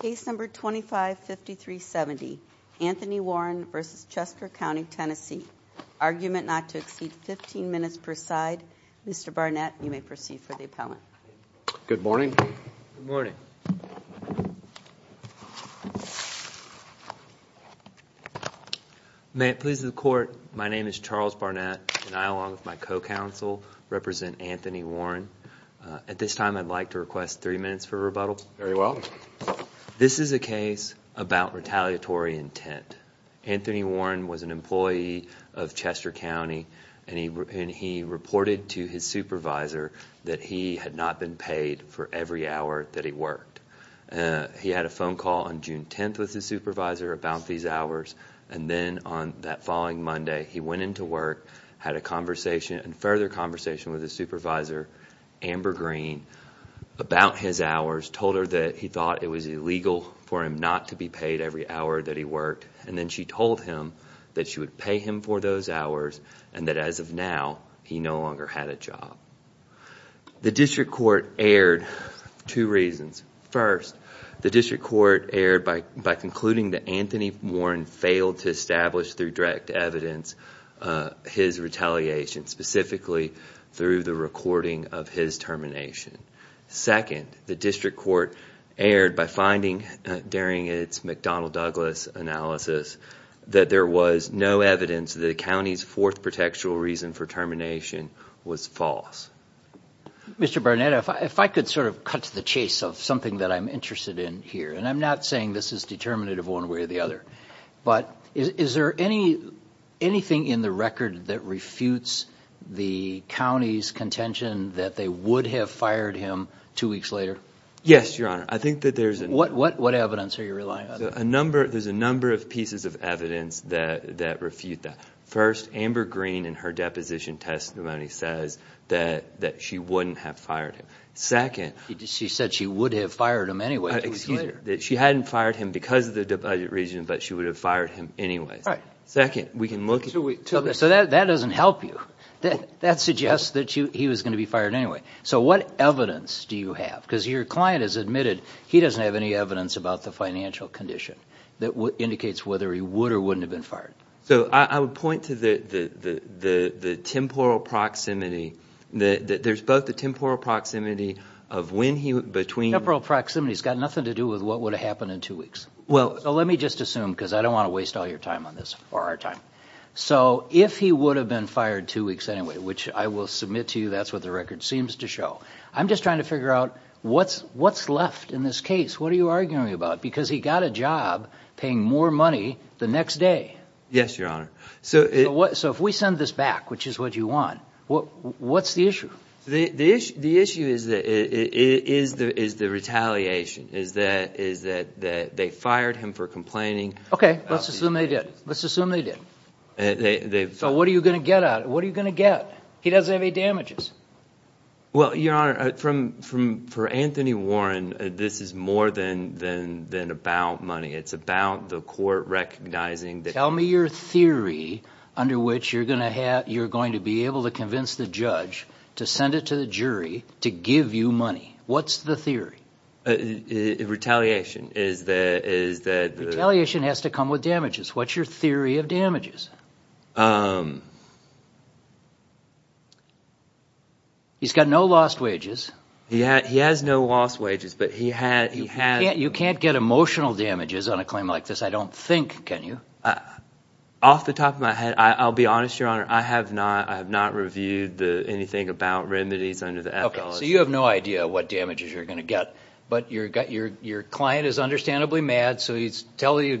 Case number 255370, Anthony Warren v. Chester County TN. Argument not to exceed 15 minutes per side. Mr. Barnett, you may proceed for the appellant. Good morning. Good morning. May it please the court, my name is Charles Barnett and I along with my co-counsel represent Anthony Warren. At this time I'd like to request three minutes for rebuttal. Very well. This is a case about retaliatory intent. Anthony Warren was an employee of Chester County and he reported to his supervisor that he had not been paid for every hour that he worked. He had a phone call on June 10th with his supervisor about these hours and then on that following Monday he went into work, had a conversation and further conversation with his supervisor, Amber Green, about his hours. Told her that he thought it was illegal for him not to be paid every hour that he worked and then she told him that she would pay him for those hours and that as of now he no longer had a job. The district court erred two reasons. First, the district court erred by concluding that Anthony Warren failed to establish through direct evidence his retaliation, specifically through the recording of his termination. Second, the district court erred by finding during its McDonnell Douglas analysis that there was no evidence that the county's fourth protectual reason for termination was false. Mr. Barnett, if I could sort of cut to the chase of something that I'm interested in here, and I'm not saying this is determinative one way or the other, but is there anything in the record that refutes the county's contention that they would have fired him two weeks later? Yes, Your Honor. What evidence are you relying on? There's a number of pieces of evidence that refute that. First, Amber Green in her deposition testimony says that she wouldn't have fired him. She said she would have fired him anyway. She hadn't fired him because of the budget reason, but she would have fired him anyway. So that doesn't help you. That suggests that he was going to be fired anyway. So what evidence do you have? Because your client has admitted he doesn't have any evidence about the financial condition that indicates whether he would or wouldn't have been fired. So I would point to the temporal proximity. There's both the temporal proximity of when he was between... The temporal proximity has got nothing to do with what would have happened in two weeks. Well, let me just assume, because I don't want to waste all your time on this, or our time. So if he would have been fired two weeks anyway, which I will submit to you that's what the record seems to show, I'm just trying to figure out what's left in this case. What are you arguing about? Because he got a job paying more money the next day. Yes, Your Honor. So if we send this back, which is what you want, what's the issue? The issue is the retaliation, is that they fired him for complaining. Okay, let's assume they did. Let's assume they did. So what are you going to get out of it? What are you going to get? He doesn't have any damages. Well, Your Honor, for Anthony Warren, this is more than about money. It's about the court recognizing that... to give you money. What's the theory? Retaliation is that... Retaliation has to come with damages. What's your theory of damages? He's got no lost wages. He has no lost wages, but he has... You can't get emotional damages on a claim like this, I don't think, can you? Off the top of my head, I'll be honest, Your Honor, I have not reviewed anything about remedies under the FLS. Okay, so you have no idea what damages you're going to get, but your client is understandably mad, so he's told you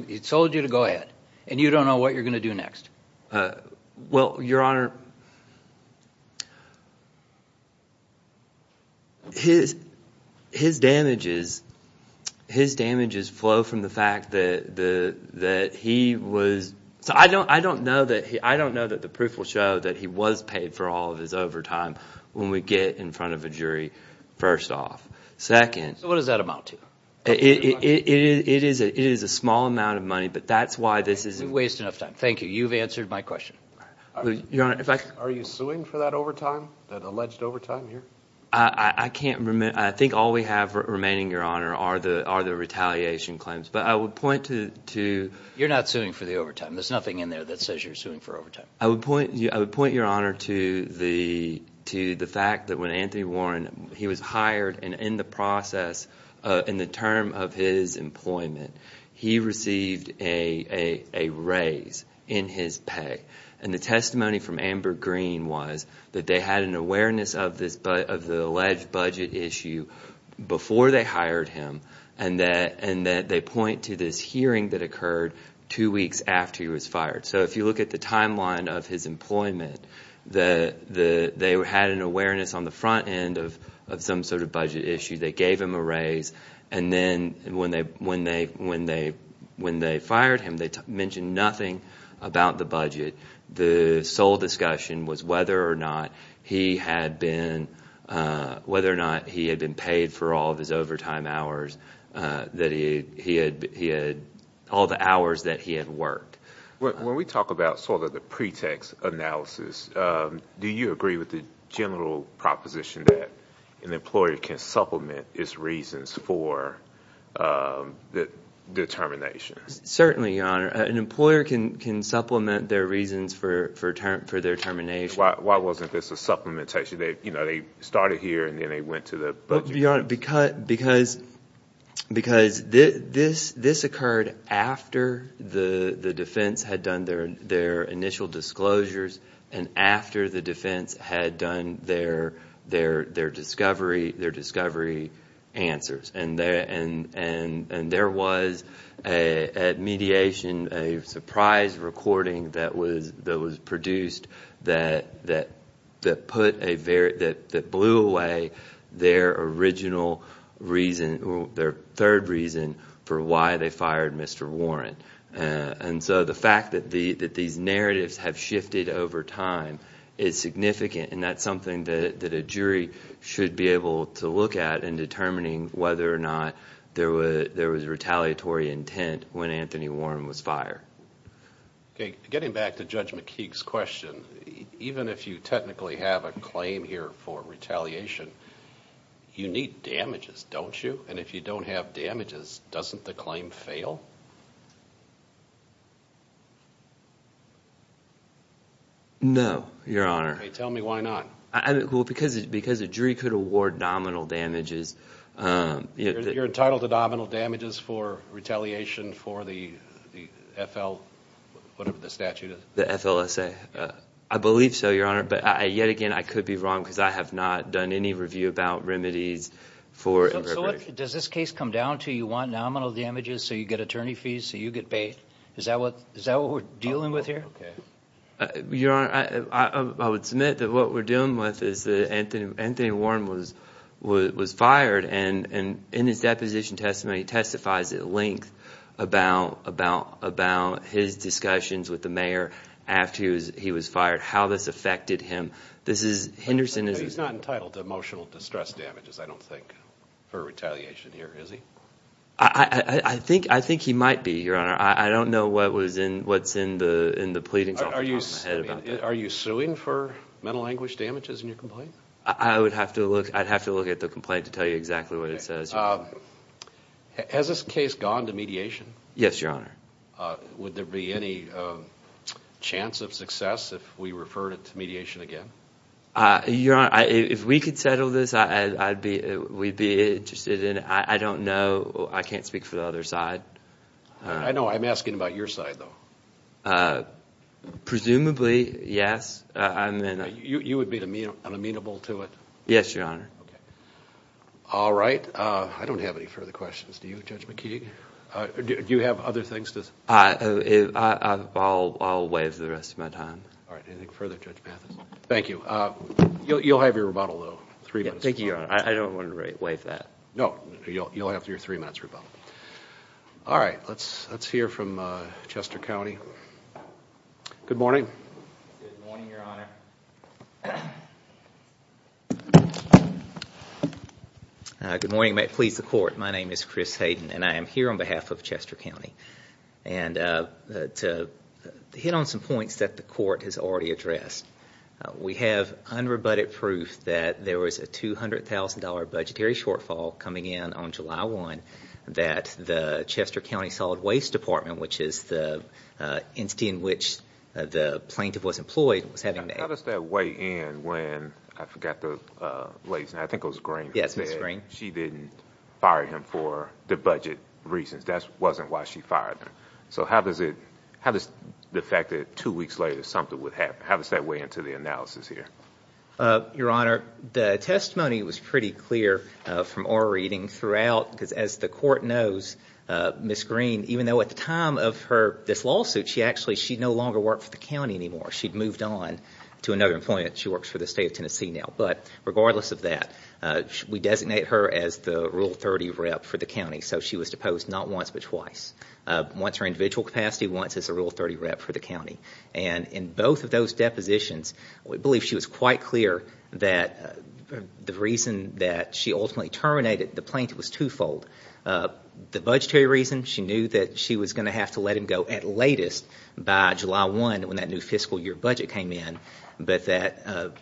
to go ahead, and you don't know what you're going to do next. Well, Your Honor... His damages flow from the fact that he was... I don't know that the proof will show that he was paid for all of his overtime when we get in front of a jury, first off. Second... So what does that amount to? It is a small amount of money, but that's why this is... You waste enough time. Thank you. You've answered my question. Your Honor, if I could... Are you suing for that overtime, that alleged overtime here? I can't remember. I think all we have remaining, Your Honor, are the retaliation claims. But I would point to... You're not suing for the overtime. There's nothing in there that says you're suing for overtime. I would point, Your Honor, to the fact that when Anthony Warren... He was hired, and in the process, in the term of his employment, he received a raise in his pay. And the testimony from Amber Green was that they had an awareness of the alleged budget issue before they hired him, and that they point to this hearing that occurred two weeks after he was fired. So if you look at the timeline of his employment, they had an awareness on the front end of some sort of budget issue. They gave him a raise, and then when they fired him, they mentioned nothing about the budget. The sole discussion was whether or not he had been paid for all of his overtime hours, all the hours that he had worked. When we talk about sort of the pretext analysis, do you agree with the general proposition that an employer can supplement his reasons for the termination? Certainly, Your Honor. An employer can supplement their reasons for their termination. Why wasn't this a supplementation? They started here, and then they went to the budget. Well, Your Honor, because this occurred after the defense had done their initial disclosures and after the defense had done their discovery answers. And there was, at mediation, a surprise recording that was produced that blew away their third reason for why they fired Mr. Warren. And so the fact that these narratives have shifted over time is significant, and that's something that a jury should be able to look at in determining whether or not there was retaliatory intent when Anthony Warren was fired. Getting back to Judge McKeague's question, even if you technically have a claim here for retaliation, you need damages, don't you? And if you don't have damages, doesn't the claim fail? No, Your Honor. Tell me why not. Well, because a jury could award nominal damages. You're entitled to nominal damages for retaliation for the FL, whatever the statute is? The FLSA. I believe so, Your Honor, but yet again, I could be wrong because I have not done any review about remedies. So does this case come down to you want nominal damages so you get attorney fees so you get paid? Is that what we're dealing with here? Your Honor, I would submit that what we're dealing with is that Anthony Warren was fired, and in his deposition testimony, he testifies at length about his discussions with the mayor after he was fired, how this affected him. But he's not entitled to emotional distress damages, I don't think, for retaliation here, is he? I think he might be, Your Honor. I don't know what's in the pleadings off the top of my head about that. Are you suing for mental anguish damages in your complaint? I would have to look at the complaint to tell you exactly what it says. Has this case gone to mediation? Yes, Your Honor. Would there be any chance of success if we referred it to mediation again? Your Honor, if we could settle this, we'd be interested in it. I don't know. I can't speak for the other side. I know. I'm asking about your side, though. Presumably, yes. You would be unamenable to it? Yes, Your Honor. All right. I don't have any further questions. Do you, Judge McKee? Do you have other things to say? I'll waive the rest of my time. All right. Anything further, Judge Mathis? Thank you. You'll have your rebuttal, though. Thank you, Your Honor. I don't want to waive that. No. You'll have your three minutes rebuttal. All right. Let's hear from Chester County. Good morning. Good morning, Your Honor. Good morning. May it please the Court. My name is Chris Hayden, and I am here on behalf of Chester County. And to hit on some points that the Court has already addressed. We have unrebutted proof that there was a $200,000 budgetary shortfall coming in on July 1, that the Chester County Solid Waste Department, which is the entity in which the plaintiff was employed, was having to act. How does that weigh in when, I forgot the lady's name, I think it was Green. Yes, Ms. Green. I think she didn't fire him for the budget reasons. That wasn't why she fired him. So how does the fact that two weeks later something would happen, how does that weigh into the analysis here? Your Honor, the testimony was pretty clear from our reading throughout, because as the Court knows, Ms. Green, even though at the time of this lawsuit, she actually no longer worked for the county anymore. She'd moved on to another employment. She works for the State of Tennessee now. But regardless of that, we designate her as the Rule 30 rep for the county. So she was deposed not once but twice. Once her individual capacity, once as a Rule 30 rep for the county. And in both of those depositions, we believe she was quite clear that the reason that she ultimately terminated the plaintiff was twofold. The budgetary reason, she knew that she was going to have to let him go at latest by July 1 when that new fiscal year budget came in. But that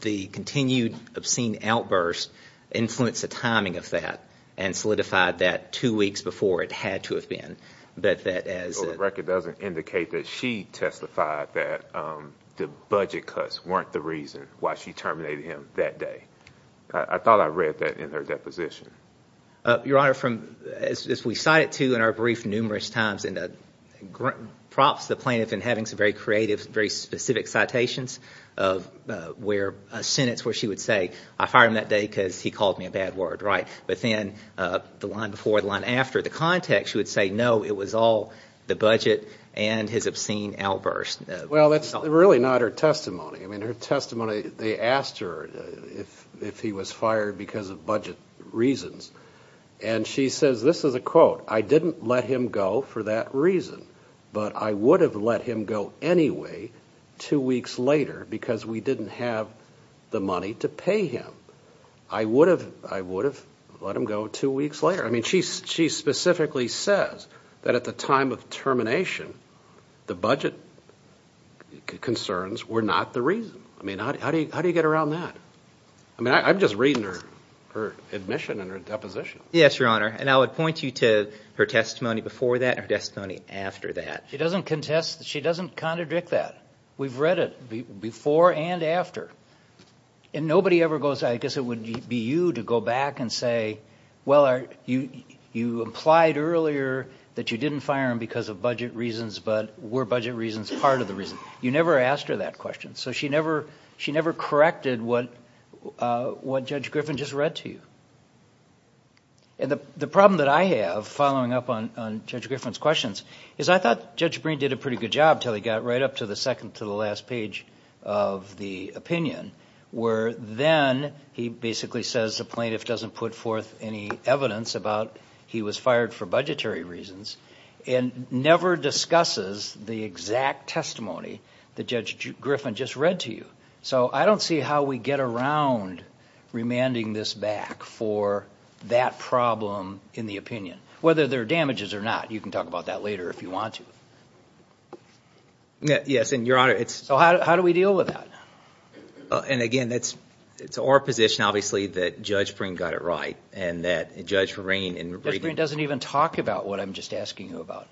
the continued obscene outburst influenced the timing of that and solidified that two weeks before it had to have been. So the record doesn't indicate that she testified that the budget cuts weren't the reason why she terminated him that day. I thought I read that in her deposition. Your Honor, as we cited too in our brief numerous times in the props to the plaintiff in having some very creative, very specific citations, where a sentence where she would say, I fired him that day because he called me a bad word. But then the line before, the line after, the context, she would say, no, it was all the budget and his obscene outburst. Well, that's really not her testimony. I mean, her testimony, they asked her if he was fired because of budget reasons. And she says, this is a quote, I didn't let him go for that reason, but I would have let him go anyway two weeks later because we didn't have the money to pay him. I would have let him go two weeks later. I mean, she specifically says that at the time of termination, the budget concerns were not the reason. I mean, how do you get around that? I mean, I'm just reading her admission and her deposition. Yes, Your Honor. And I would point you to her testimony before that and her testimony after that. She doesn't contest, she doesn't contradict that. We've read it before and after. And nobody ever goes, I guess it would be you to go back and say, well, you implied earlier that you didn't fire him because of budget reasons, but were budget reasons part of the reason. You never asked her that question. So she never corrected what Judge Griffin just read to you. And the problem that I have, following up on Judge Griffin's questions, is I thought Judge Breen did a pretty good job until he got right up to the second to the last page of the opinion, where then he basically says the plaintiff doesn't put forth any evidence about he was fired for budgetary reasons and never discusses the exact testimony that Judge Griffin just read to you. So I don't see how we get around remanding this back for that problem in the opinion. Whether there are damages or not, you can talk about that later if you want to. Yes, and Your Honor, it's... So how do we deal with that? And again, it's our position, obviously, that Judge Breen got it right and that Judge Breen... Judge Breen doesn't even talk about what I'm just asking you about.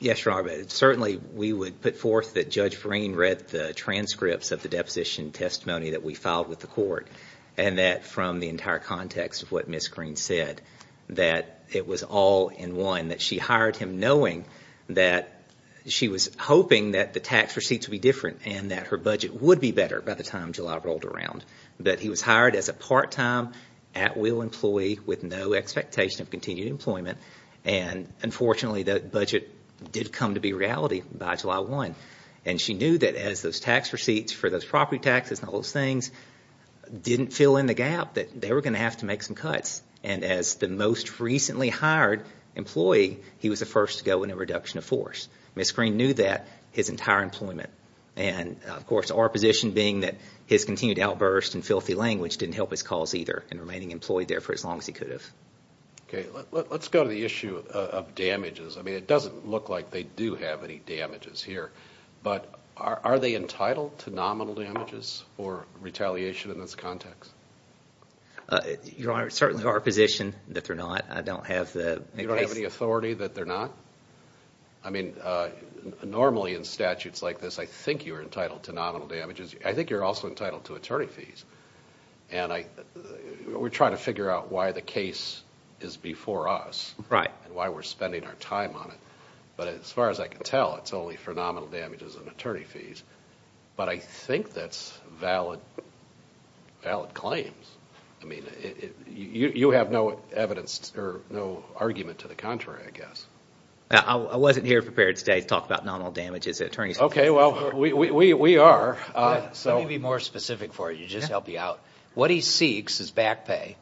Yes, Your Honor, but certainly we would put forth that Judge Breen read the transcripts of the deposition testimony that we filed with the court and that from the entire context of what Ms. Green said, that it was all in one, that she hired him knowing that she was hoping that the tax receipts would be different and that her budget would be better by the time July rolled around. But he was hired as a part-time at-will employee with no expectation of continued employment and unfortunately that budget did come to be a reality by July 1. And she knew that as those tax receipts for those property taxes and all those things didn't fill in the gap, that they were going to have to make some cuts. And as the most recently hired employee, he was the first to go in a reduction of force. Ms. Green knew that, his entire employment. And of course, our position being that his continued outburst and filthy language didn't help his cause either in remaining employed there for as long as he could have. Okay, let's go to the issue of damages. I mean, it doesn't look like they do have any damages here. But are they entitled to nominal damages or retaliation in this context? Certainly our position that they're not. I don't have the case. You don't have any authority that they're not? I mean, normally in statutes like this, I think you're entitled to nominal damages. I think you're also entitled to attorney fees. And we're trying to figure out why the case is before us. Right. And why we're spending our time on it. But as far as I can tell, it's only for nominal damages and attorney fees. But I think that's valid claims. I mean, you have no evidence or no argument to the contrary, I guess. I wasn't here prepared today to talk about nominal damages. Okay, well, we are. Let me be more specific for you, just to help you out. What he seeks is back pay.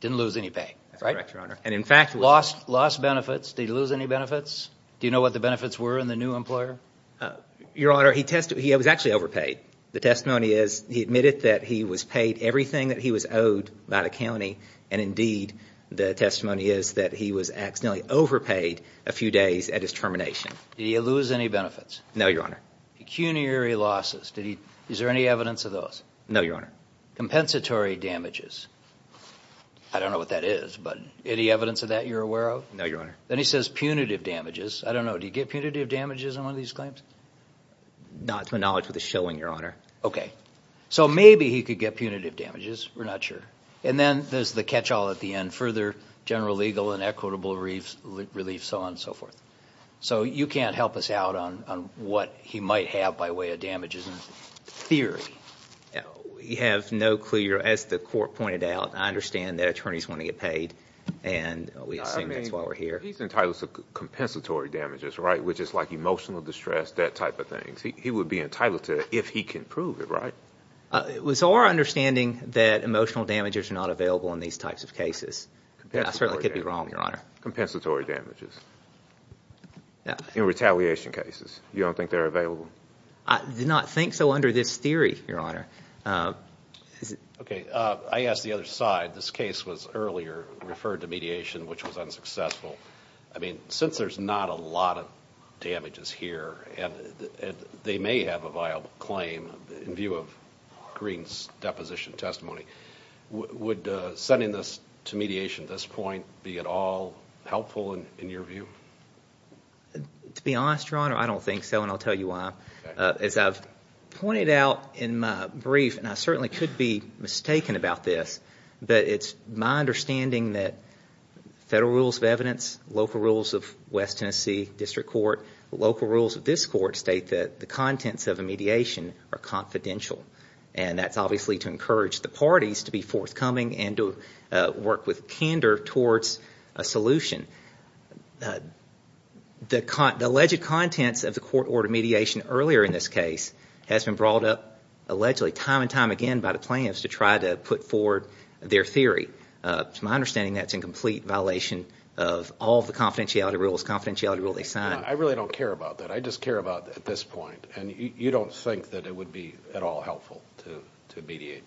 Didn't lose any pay. That's correct, Your Honor. Lost benefits. Did he lose any benefits? Do you know what the benefits were in the new employer? Your Honor, he was actually overpaid. The testimony is he admitted that he was paid everything that he was owed by the county. And indeed, the testimony is that he was accidentally overpaid a few days at his termination. Did he lose any benefits? No, Your Honor. Pecuniary losses. Is there any evidence of those? No, Your Honor. Compensatory damages. I don't know what that is, but any evidence of that you're aware of? No, Your Honor. Then he says punitive damages. I don't know. Did he get punitive damages on one of these claims? Not to my knowledge with the shilling, Your Honor. Okay. So maybe he could get punitive damages. We're not sure. And then there's the catch-all at the end. Further general legal and equitable relief, so on and so forth. So you can't help us out on what he might have by way of damages in theory. We have no clue. As the court pointed out, I understand that attorneys want to get paid, and we assume that's why we're here. He's entitled to compensatory damages, right, which is like emotional distress, that type of thing. He would be entitled to it if he can prove it, right? It was our understanding that emotional damages are not available in these types of cases. I certainly could be wrong, Your Honor. Compensatory damages. In retaliation cases, you don't think they're available? I did not think so under this theory, Your Honor. Okay. I asked the other side. This case was earlier referred to mediation, which was unsuccessful. I mean, since there's not a lot of damages here, and they may have a viable claim in view of Green's deposition testimony, would sending this to mediation at this point be at all helpful in your view? To be honest, Your Honor, I don't think so, and I'll tell you why. As I've pointed out in my brief, and I certainly could be mistaken about this, but it's my understanding that federal rules of evidence, local rules of West Tennessee district court, local rules of this court state that the contents of a mediation are confidential, and that's obviously to encourage the parties to be forthcoming and to work with candor towards a solution. The alleged contents of the court-ordered mediation earlier in this case has been brought up allegedly time and time again by the plaintiffs to try to put forward their theory. It's my understanding that's in complete violation of all the confidentiality rules, confidentiality rule they signed. I really don't care about that. I just care about at this point, and you don't think that it would be at all helpful to mediate?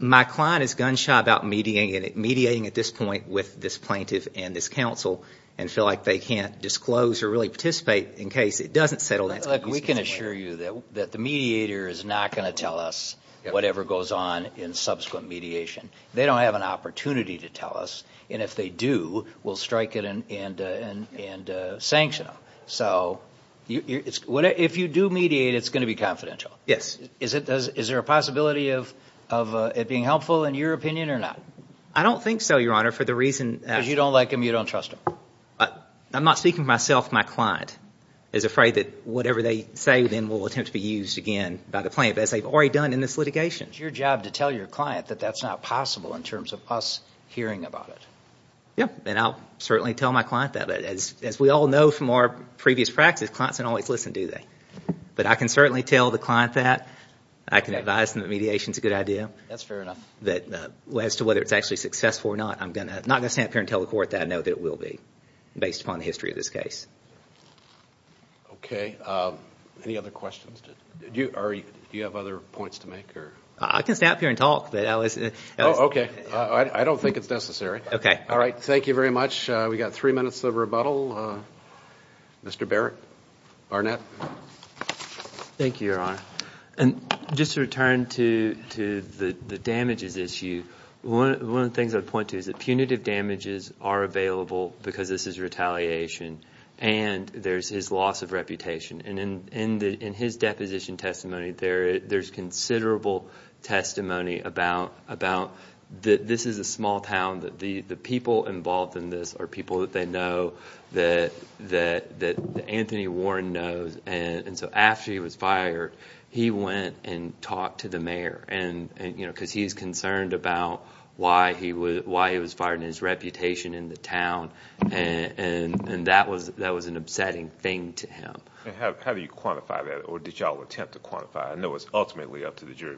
My client is gun-shy about mediating at this point with this plaintiff and this counsel and feel like they can't disclose or really participate in case it doesn't settle down. Look, we can assure you that the mediator is not going to tell us whatever goes on in subsequent mediation. They don't have an opportunity to tell us, and if they do, we'll strike it and sanction them. So if you do mediate, it's going to be confidential. Yes. Is there a possibility of it being helpful in your opinion or not? I don't think so, Your Honor, for the reason that— Because you don't like them, you don't trust them. I'm not speaking for myself. My client is afraid that whatever they say then will attempt to be used again by the plaintiff, as they've already done in this litigation. It's your job to tell your client that that's not possible in terms of us hearing about it. Yes, and I'll certainly tell my client that. As we all know from our previous practice, clients don't always listen, do they? But I can certainly tell the client that. I can advise them that mediation is a good idea. That's fair enough. As to whether it's actually successful or not, I'm not going to stand up here and tell the court that I know that it will be, based upon the history of this case. Okay. Any other questions? Do you have other points to make? I can stand up here and talk. Oh, okay. I don't think it's necessary. Okay. All right. Thank you very much. We've got three minutes of rebuttal. Mr. Barrett? Thank you, Your Honor. Just to return to the damages issue, one of the things I would point to is that punitive damages are available because this is retaliation, and there's his loss of reputation. In his deposition testimony, there's considerable testimony about this is a small town, that the people involved in this are people that they know, that Anthony Warren knows, and so after he was fired, he went and talked to the mayor, because he's concerned about why he was fired and his reputation in the town, and that was an upsetting thing to him. How do you quantify that, or did you all attempt to quantify it? I know it's ultimately up to the jury.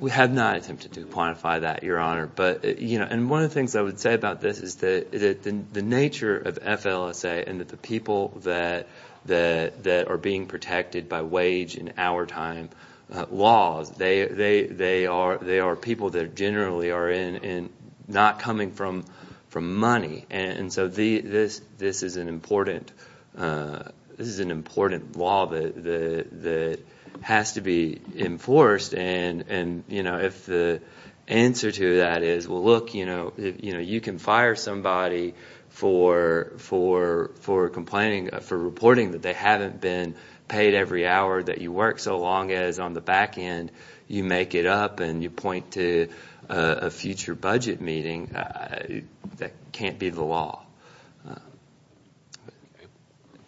We have not attempted to quantify that, Your Honor. One of the things I would say about this is that the nature of FLSA and that the people that are being protected by wage and hour time laws, they are people that generally are not coming from money, and so this is an important law that has to be enforced, and if the answer to that is, well, look, you can fire somebody for reporting that they haven't been paid every hour that you work, so long as on the back end you make it up and you point to a future budget meeting, that can't be the law.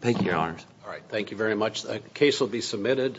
Thank you, Your Honors. All right, thank you very much. The case will be submitted.